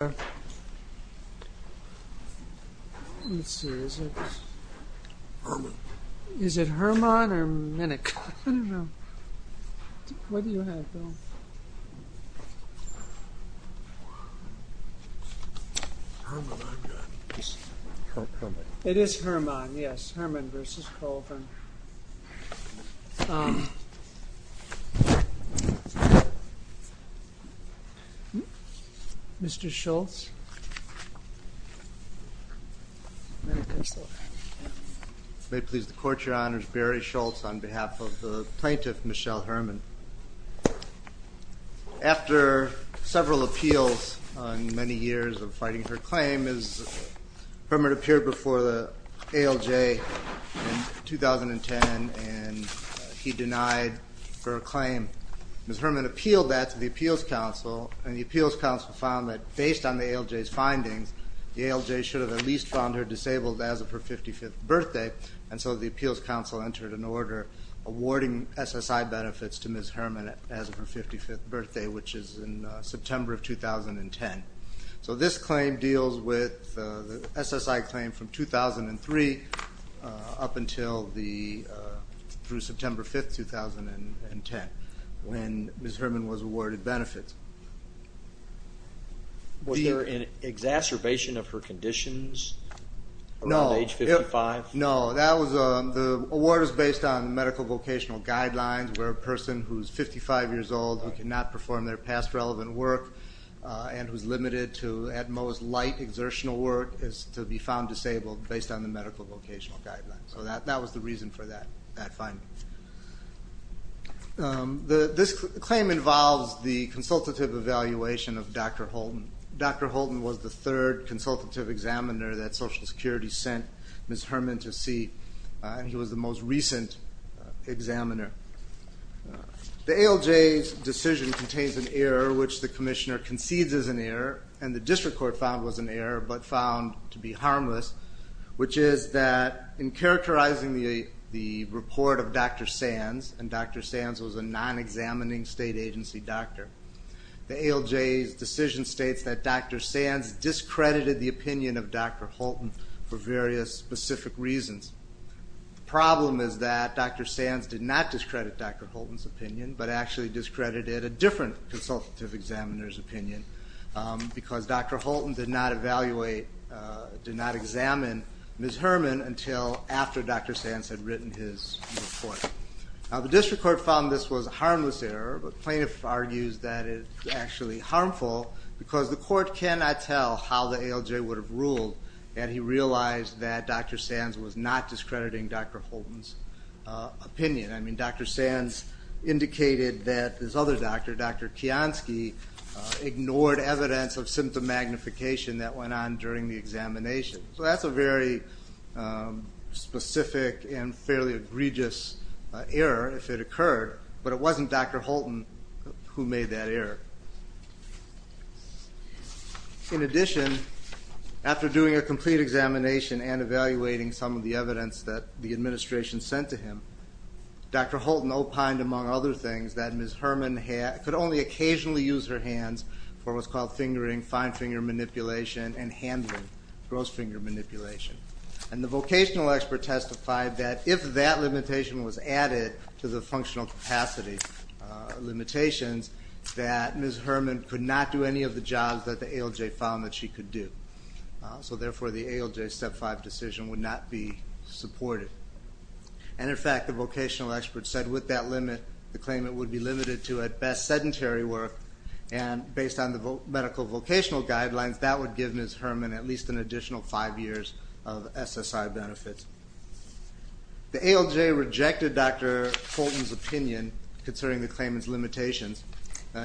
Mr. Hermann, yes, Hermann v. Colvin. Mr. Schultz. May it please the Court, Your Honors, Barry Schultz on behalf of the plaintiff, Michelle Hermann. After several appeals and many years of fighting her claim, Hermann appeared before the ALJ in 2010 and he denied her claim. Ms. Hermann appealed that to the Appeals Council and the Appeals Council found that based on the ALJ's findings, the ALJ should have at least found her disabled as of her 55th birthday and so the Appeals Council entered an order awarding SSI benefits to Ms. Hermann as of her 55th birthday which is in September of 2010. So this claim deals with the SSI claim from 2003 up until through September 5th, 2010 when Ms. Hermann was awarded benefits. Was there an exacerbation of her conditions around age 55? No, the award was based on their past relevant work and was limited to at most light exertional work to be found disabled based on the medical vocational guidelines. So that was the reason for that finding. This claim involves the consultative evaluation of Dr. Holton. Dr. Holton was the third consultative examiner that Social Security sent Ms. Hermann to see and he was the most recent examiner. The ALJ's decision contains an error which the Commissioner concedes is an error and the District Court found was an error but found to be harmless which is that in characterizing the report of Dr. Sands, and Dr. Sands was a non-examining state agency doctor, the ALJ's decision states that Dr. Sands discredited the opinion of Dr. Holton for various specific reasons. The problem is that Dr. Sands did not discredit Dr. Holton's opinion but actually discredited a different consultative examiner's opinion because Dr. Holton did not evaluate, did not examine Ms. Hermann until after Dr. Sands had written his report. Now the District Court found this was a harmless error but plaintiff argues that it's actually harmful because the court cannot tell how the ALJ would have ruled had he realized that Dr. Sands was not discrediting Dr. Holton's opinion. I mean Dr. Sands indicated that this other doctor, Dr. Kiansky, ignored evidence of symptom magnification that went on during the examination. So that's a very specific and fairly egregious error if it occurred but it wasn't Dr. Holton who made that error. In addition, after doing a complete examination and evaluating some of the evidence that the administration sent to him, Dr. Holton opined among other things that Ms. Hermann could only occasionally use her hands for what's called fingering, fine finger manipulation, and handling, gross finger manipulation. And the vocational expert testified that if that limitation was added to the functional capacity limitations that Ms. Hermann could not do any of the jobs that the ALJ found that she could do. So therefore the ALJ Step 5 decision would not be supported. And in fact the vocational expert said with that limit the claimant would be limited to at best sedentary work and based on the medical vocational guidelines that would give Ms. Hermann at least an additional five years of SSI benefits. The ALJ rejected Dr. Holton's opinion concerning the claimant's limitations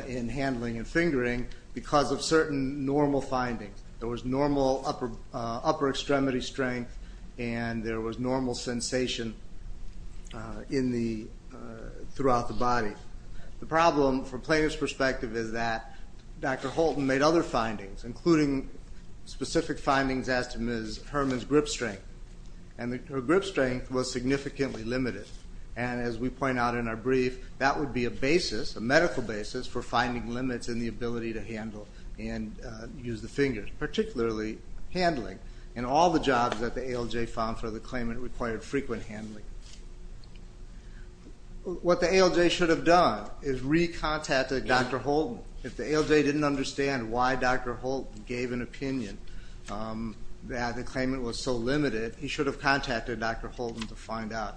in handling and fingering because of certain normal findings. There was normal upper extremity strength and there was normal sensation throughout the body. The problem from plaintiff's perspective is that Dr. Holton made other findings including specific findings as to Ms. Hermann's grip strength. And her grip strength was significantly limited. And as we point out in our brief that would be a basis, a medical basis, for finding limits in the ability to handle and use the fingers, particularly handling. And all the jobs that the ALJ found for the claimant required frequent handling. What the ALJ should have done is re-contacted Dr. Holton. If the ALJ didn't understand why Dr. Holton gave an opinion that the claimant was so limited, he should have contacted Dr. Holton to find out.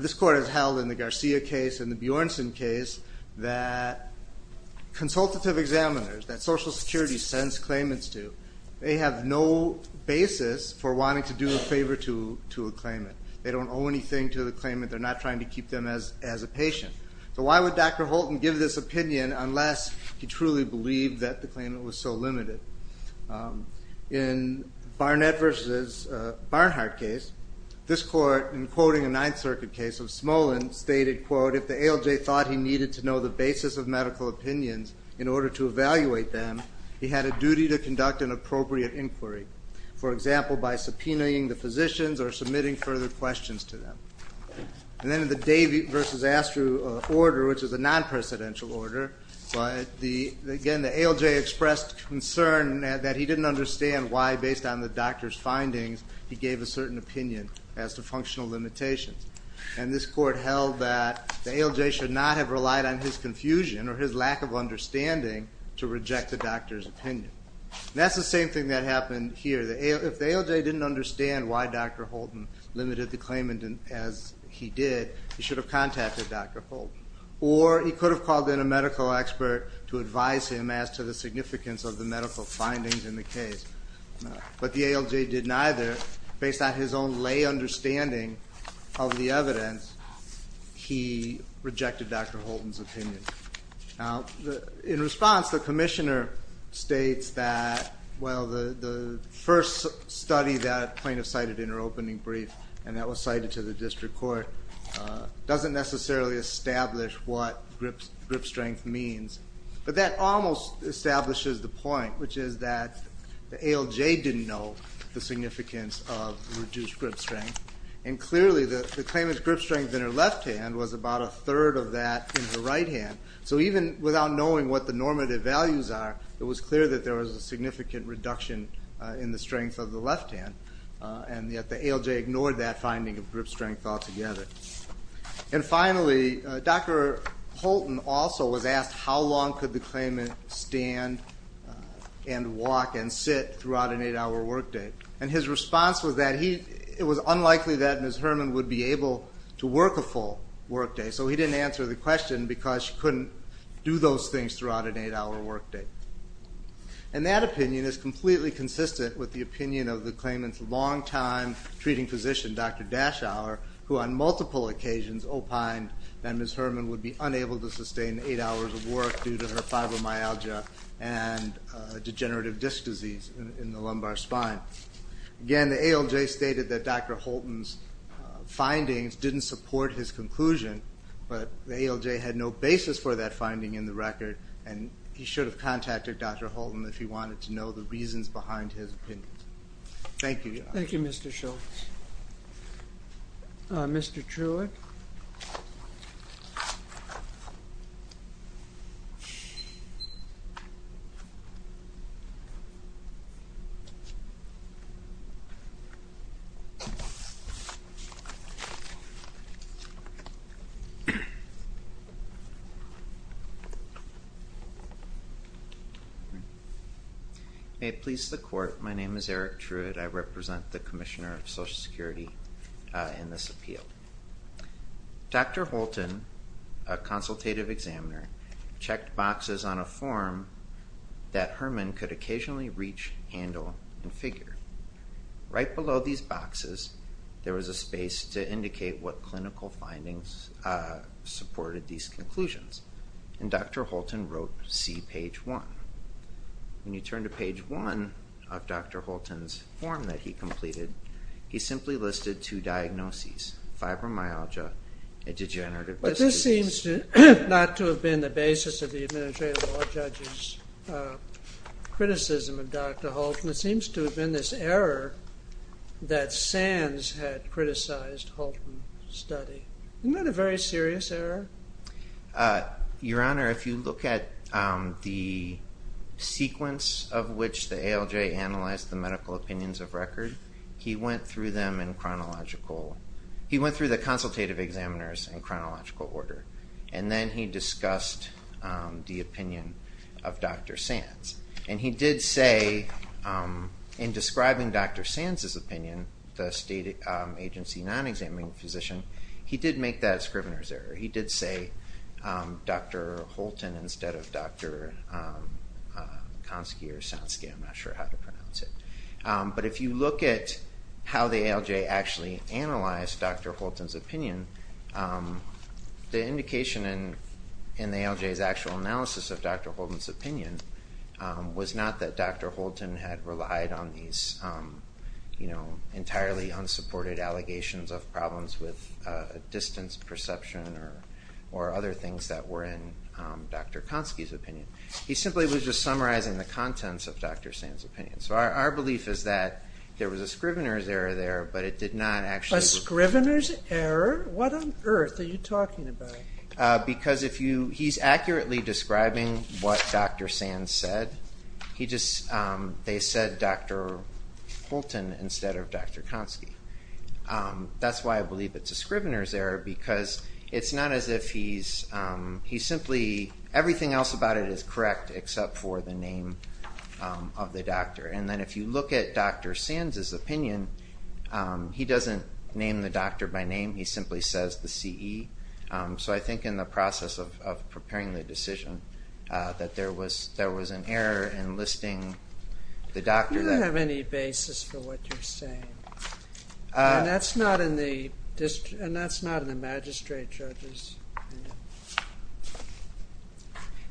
This court has held in the Garcia case and the Bjornsson case that consultative examiners that Social Security sends claimants to, they have no basis for wanting to do a favor to a claimant. They don't owe anything to the claimant. They're not trying to keep them as a patient. So why would Dr. Holton give this opinion unless he truly believed that the claimant was so limited? In Barnett v. Barnhart case, this court in quoting a Ninth Circuit case of Smolin stated, quote, if the ALJ thought he needed to know the basis of medical opinions in order to evaluate them, he had a duty to conduct an appropriate inquiry. For example, by subpoenaing the physicians or submitting further questions to them. And then in the Davey v. Astru order, which is a non-presidential order, but again, the ALJ expressed concern that he didn't understand why, based on the doctor's findings, he gave a certain opinion as to functional limitations. And this court held that the ALJ should not have relied on his confusion or his lack of understanding to reject the doctor's opinion. And that's the same thing that happened here. If the ALJ didn't understand why Dr. Holton limited the claimant as he did, he should have contacted Dr. Holton. Or he could have called in a medical expert to advise him as to the significance of the medical findings in the case. But the ALJ did neither. Based on his own lay understanding of the evidence, he rejected Dr. Holton's opinion. In response, the commissioner states that, well, the first study that plaintiff cited in her opening brief, and that was cited to the district court, doesn't necessarily establish what grip strength means. But that almost establishes the point, which is that the ALJ didn't know the significance of reduced grip strength. And clearly, the claimant's grip strength in her left hand was about a third of that in her right hand. So even without knowing what the normative values are, it was clear that there was a significant reduction in the strength of the left hand. And yet the ALJ ignored that finding of grip strength altogether. And finally, Dr. Holton also was asked how long could the claimant stand and walk and sit throughout an eight-hour work day. And his response was that it was unlikely that Ms. Herman would be able to work a full work day. So he didn't answer the question because she couldn't do those things throughout an eight-hour work day. And that opinion is completely consistent with the opinion of the claimant's longtime treating physician, Dr. Daschauer, who on multiple occasions opined that Ms. Herman would be unable to sustain eight hours of work due to her fibromyalgia and degenerative disc disease in the lumbar spine. Again, the ALJ stated that Dr. Holton's findings didn't support his conclusion, but the ALJ had no basis for that finding in the record, and he should have contacted Dr. Holton if he wanted to know the reasons behind his opinion. Thank you, Your Honor. Thank you, Mr. Shultz. Mr. Truitt. May it please the Court, my name is Eric Truitt. I represent the Commissioner of Social Security in this appeal. Dr. Holton, a consultative examiner, checked boxes on a form that Herman could occasionally reach, handle, and figure. Right below these boxes, there was a space to indicate what clinical findings supported these conclusions, and Dr. Holton wrote, see page one. When you turn to page one of Dr. Holton's form that he completed, he simply listed two diagnoses, fibromyalgia and degenerative disc disease. But this seems not to have been the basis of the Administrative Law Judge's criticism of Dr. Holton. It seems to have been this error that Sands had criticized Holton's study. Isn't that a very serious error? Your Honor, if you look at the sequence of which the ALJ analyzed the medical opinions of record, he went through them in chronological, he went through the consultative examiners in chronological order, and then he discussed the opinion of Dr. Sands. And he did say in describing Dr. Sands' opinion, the state agency non-examining physician, he did make that as Scrivener's error. He did say Dr. Holton instead of Dr. Konsky or Sonsky, I'm not sure how to pronounce it. But if you look at how the ALJ actually analyzed Dr. Holton's opinion, the indication in the ALJ's actual analysis of Dr. Holton's opinion was not that Dr. Holton had relied on these entirely unsupported allegations of problems with distance perception or other things that were in Dr. Konsky's opinion. He simply was just summarizing the contents of Dr. Sands' opinion. So our belief is that there was a Scrivener's error there, but it did not actually... A Scrivener's error? What on earth are you talking about? Because he's accurately describing what Dr. Sands said. They said Dr. Holton instead of Dr. Konsky. That's why I believe it's a Scrivener's error because it's not as if he's simply... Everything else about it is correct except for the name of the doctor. And then if you look at Dr. Sands' opinion, he doesn't name the doctor by name. He simply says the CE. So I think in the process of preparing the decision that there was an error in listing the doctor that... You don't have any basis for what you're saying. And that's not in the magistrate judge's opinion.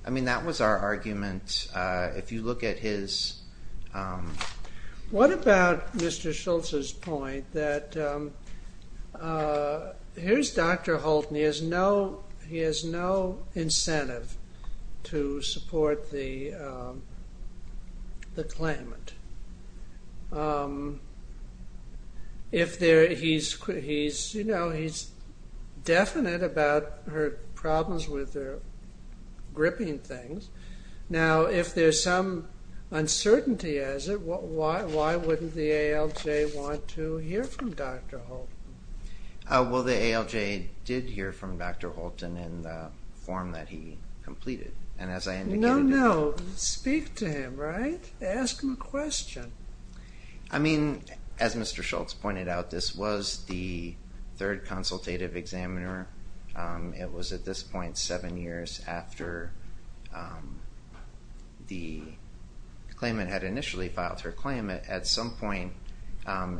I mean, that was our argument. If you look at his... What about Mr. Schultz's point that here's Dr. Holton. He has no incentive to support the claimant. He's definite about her problems with her gripping things. Now if there's some reason why wouldn't the ALJ want to hear from Dr. Holton? Well, the ALJ did hear from Dr. Holton in the form that he completed. And as I indicated... No, no. Speak to him, right? Ask him a question. I mean, as Mr. Schultz pointed out, this was the third consultative examiner. It was at this point seven years after the claimant had initially filed her claim. At some point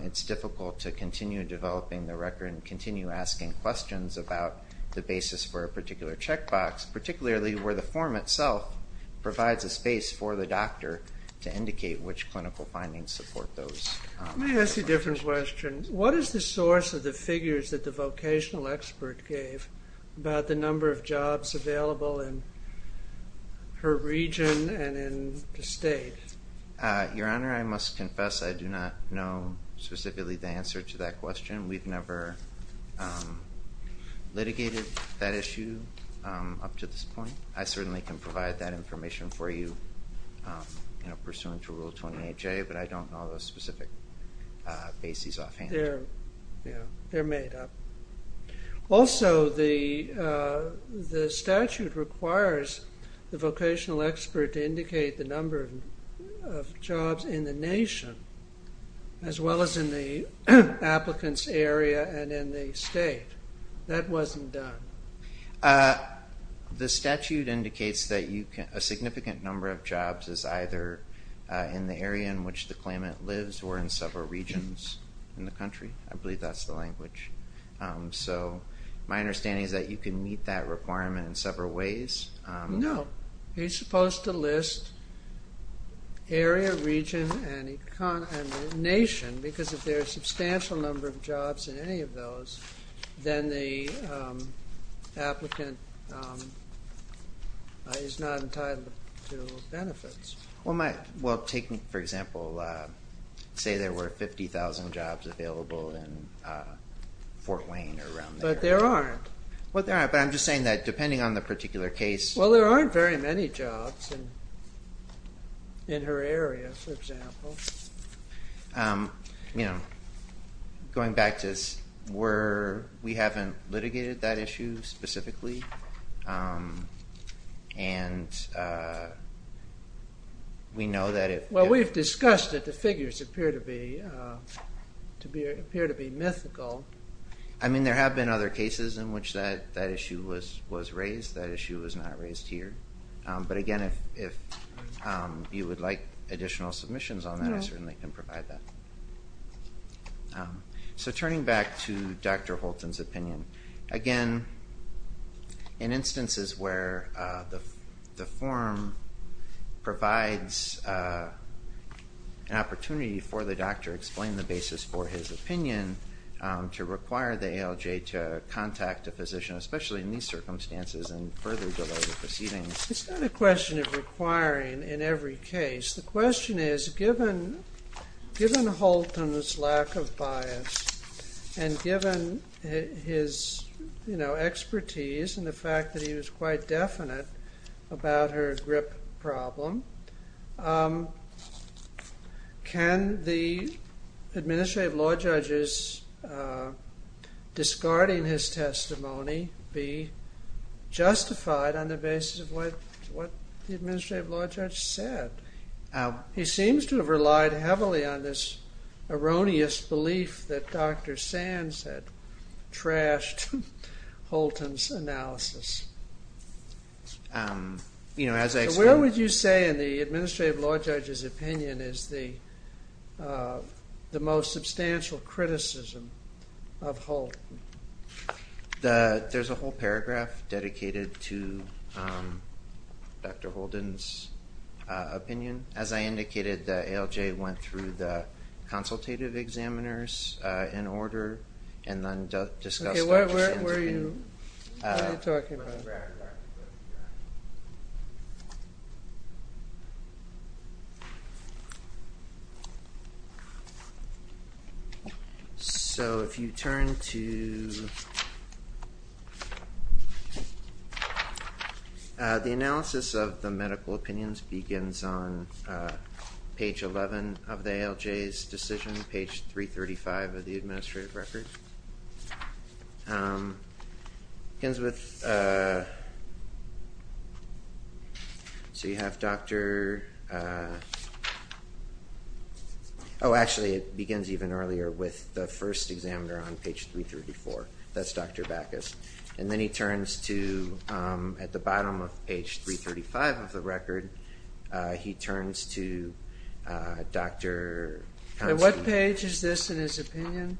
it's difficult to continue developing the record and continue asking questions about the basis for a particular checkbox, particularly where the form itself provides a space for the doctor to indicate which clinical findings support those. Let me ask you a different question. What is the source of the figures that the vocational expert gave about the number of jobs available in her region and in the state? Your Honor, I must confess I do not know specifically the answer to that question. We've never litigated that issue up to this point. I certainly can provide that information for you pursuant to Rule 28J, but I don't know those specific bases offhand. They're made up. Also, the statute requires the vocational expert to indicate the number of jobs in the nation as well as in the applicant's area and in the state. That wasn't done. The statute indicates that a significant number of jobs is either in the area in which the applicant is working or in the country. I believe that's the language. So my understanding is that you can meet that requirement in several ways. No. You're supposed to list area, region, and nation, because if there's a substantial number of jobs in any of those, then the applicant is not entitled to benefits. Well, take, for example, say there were 50,000 jobs available in Fort Wayne or around there. But there aren't. Well, there aren't, but I'm just saying that depending on the particular case... Well, there aren't very many jobs in her area, for example. Going back to where we haven't litigated that issue specifically, and I don't think that we know that if... Well, we've discussed that the figures appear to be mythical. I mean, there have been other cases in which that issue was raised. That issue was not raised here. But again, if you would like additional submissions on that, I certainly can provide that. So turning back to Dr. Holton's opinion, again, in instances where the form provides an opportunity for the doctor to explain the basis for his opinion to require the ALJ to contact a physician, especially in these circumstances, and further delay the proceedings... It's not a question of requiring in every case. The question is, given Holton's lack of bias, and given his expertise and the fact that he was quite definite about her grip problem, can the administrative law judge's discarding his testimony be justified on the basis of what the administrative law judge said? He seems to have relied heavily on this erroneous belief that Dr. Sands had trashed Holton's analysis. So where would you say, in the administrative law judge's opinion, is the most substantial criticism of Holton? There's a whole paragraph dedicated to Dr. Holden's opinion. As I indicated, the ALJ went through the consultative examiners in order, and then discussed Dr. Sands' opinion. Where were you? What were you talking about? So if you turn to... The analysis of the medical opinions begins on page 11 of the ALJ's decision, page 335 of the administrative record. It begins with... So you have Dr.... Oh, actually it begins even earlier, with the first examiner on page 334. That's Dr. Backus. And then he turns to, at the bottom of page 335 of the record, he turns to Dr.... What page is this in his opinion?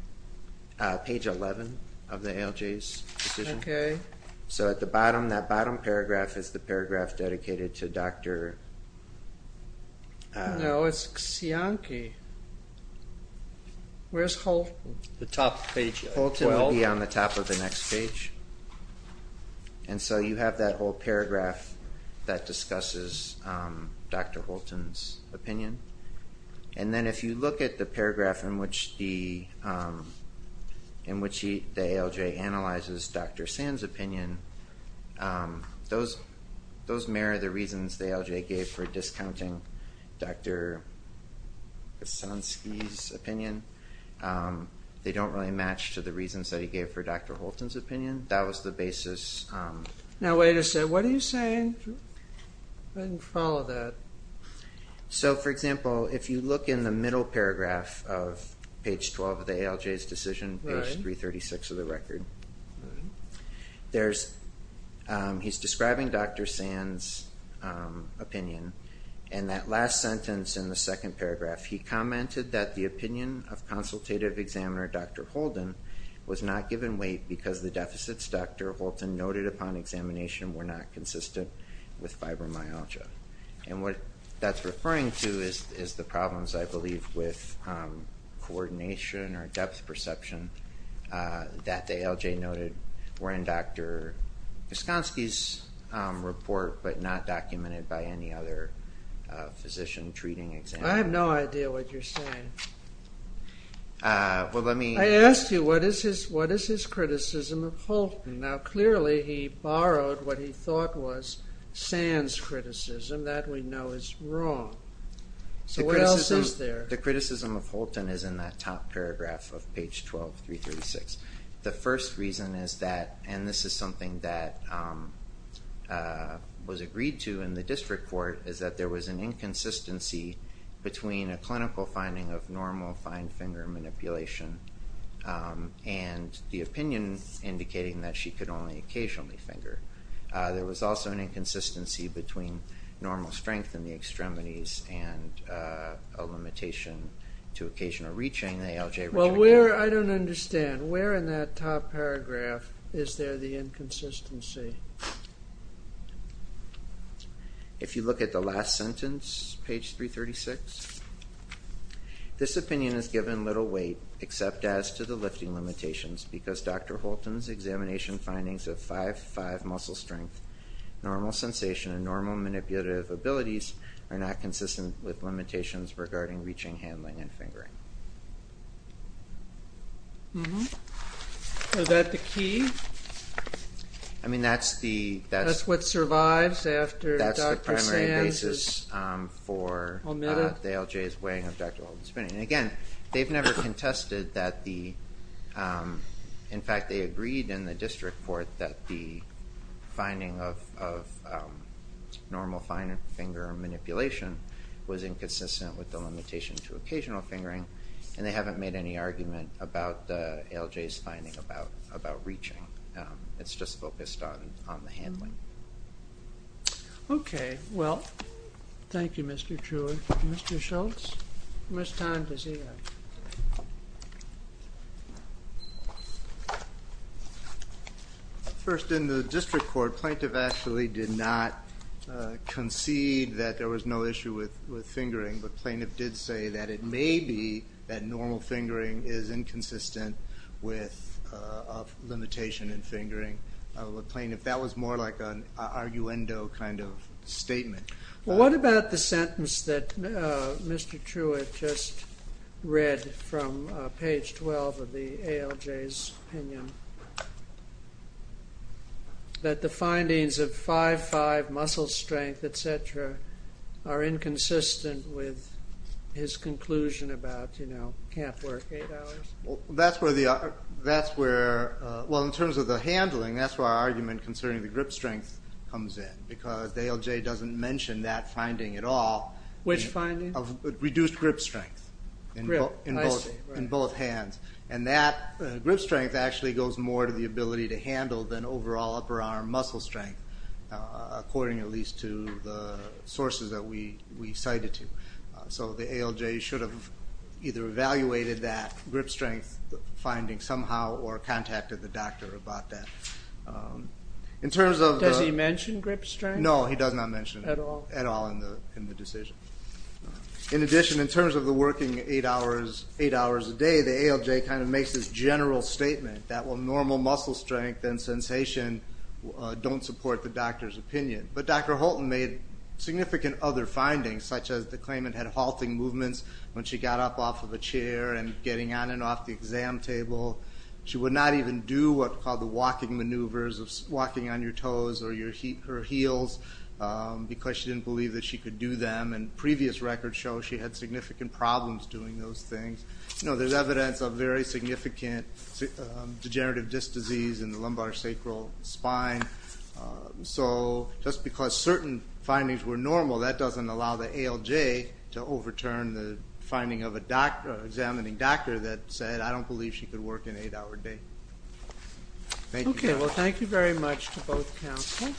Page 11 of the ALJ's decision. So at the bottom, that bottom paragraph is the paragraph dedicated to Dr.... No, it's Cianchi. Where's Holton? The top of page 12. Holton will be on the top of the next page. And so you have that whole paragraph that is... If you look at the paragraph in which the ALJ analyzes Dr. Sands' opinion, those mirror the reasons the ALJ gave for discounting Dr. Kosansky's opinion. They don't really match to the reasons that he gave for Dr. Holton's opinion. That was the basis... Now wait a second. What are you saying? I didn't follow that. So for example, if you look in the middle paragraph of page 12 of the ALJ's decision, page 336 of the record, there's... He's describing Dr. Sands' opinion. And that last sentence in the second paragraph, he commented that the opinion of consultative examiner Dr. Holden was not given weight because the deficits Dr. Holton noted upon examination were not What that's referring to is the problems, I believe, with coordination or depth perception that the ALJ noted were in Dr. Kosansky's report, but not documented by any other physician treating examiner. I have no idea what you're saying. Well, let me... I asked you, what is his criticism of Holton? Now clearly he borrowed what he thought was wrong. So what else is there? The criticism of Holton is in that top paragraph of page 12, 336. The first reason is that, and this is something that was agreed to in the district court, is that there was an inconsistency between a clinical finding of normal fine finger manipulation and the opinion indicating that she could only occasionally finger. There was also an inconsistency between normal strength in the extremities and a limitation to occasional reaching the ALJ... Well where, I don't understand, where in that top paragraph is there the inconsistency? If you look at the last sentence, page 336, this opinion is given little weight except as to the lifting limitations because Dr. Holton's examination findings of 5-5 muscle strength, normal sensation, and normal manipulative abilities are not consistent with limitations regarding reaching, handling, and fingering. Mm-hmm. Is that the key? I mean that's the... That's what survives after Dr. Sands is omitted? That's the primary basis for the ALJ's weighing of Dr. Holton's opinion. And again, they've agreed in the district court that the finding of normal fine finger manipulation was inconsistent with the limitation to occasional fingering, and they haven't made any argument about the ALJ's finding about reaching. It's just focused on the handling. Okay. Well, thank you, Mr. Truitt. Mr. Schultz, it's time to see you. First, in the district court, plaintiff actually did not concede that there was no issue with fingering, but plaintiff did say that it may be that normal fingering is inconsistent with limitation in fingering. Plaintiff, that was more like an arguendo kind of statement. What about the sentence that Mr. Truitt just read from page 12 of the ALJ's opinion? That the findings of 5'5", muscle strength, et cetera, are inconsistent with his conclusion about, you know, can't work eight hours? That's where the... Well, in terms of the handling, that's where our argument concerning the grip strength comes in, because the ALJ doesn't mention that finding at all. Which finding? Reduced grip strength in both hands, and that grip strength actually goes more to the point of the ability to handle than overall upper arm muscle strength, according at least to the sources that we cited to. So the ALJ should have either evaluated that grip strength finding somehow or contacted the doctor about that. In terms of the... Does he mention grip strength? No, he does not mention it at all in the decision. In addition, in terms of the working eight hours a day, the ALJ kind of makes this general statement that, well, normal muscle strength and sensation don't support the doctor's opinion. But Dr. Holton made significant other findings, such as the claimant had halting movements when she got up off of a chair and getting on and off the exam table. She would not even do what are called the walking maneuvers of walking on your toes or your heels, because she didn't believe that she could do them. And previous records show she had significant problems doing those things. There's evidence of very significant degenerative disc disease in the lumbar sacral spine. So just because certain findings were normal, that doesn't allow the ALJ to overturn the finding of an examining doctor that said, I don't believe she could work an eight-hour day. Thank you. Okay, well, thank you very much to both counselors.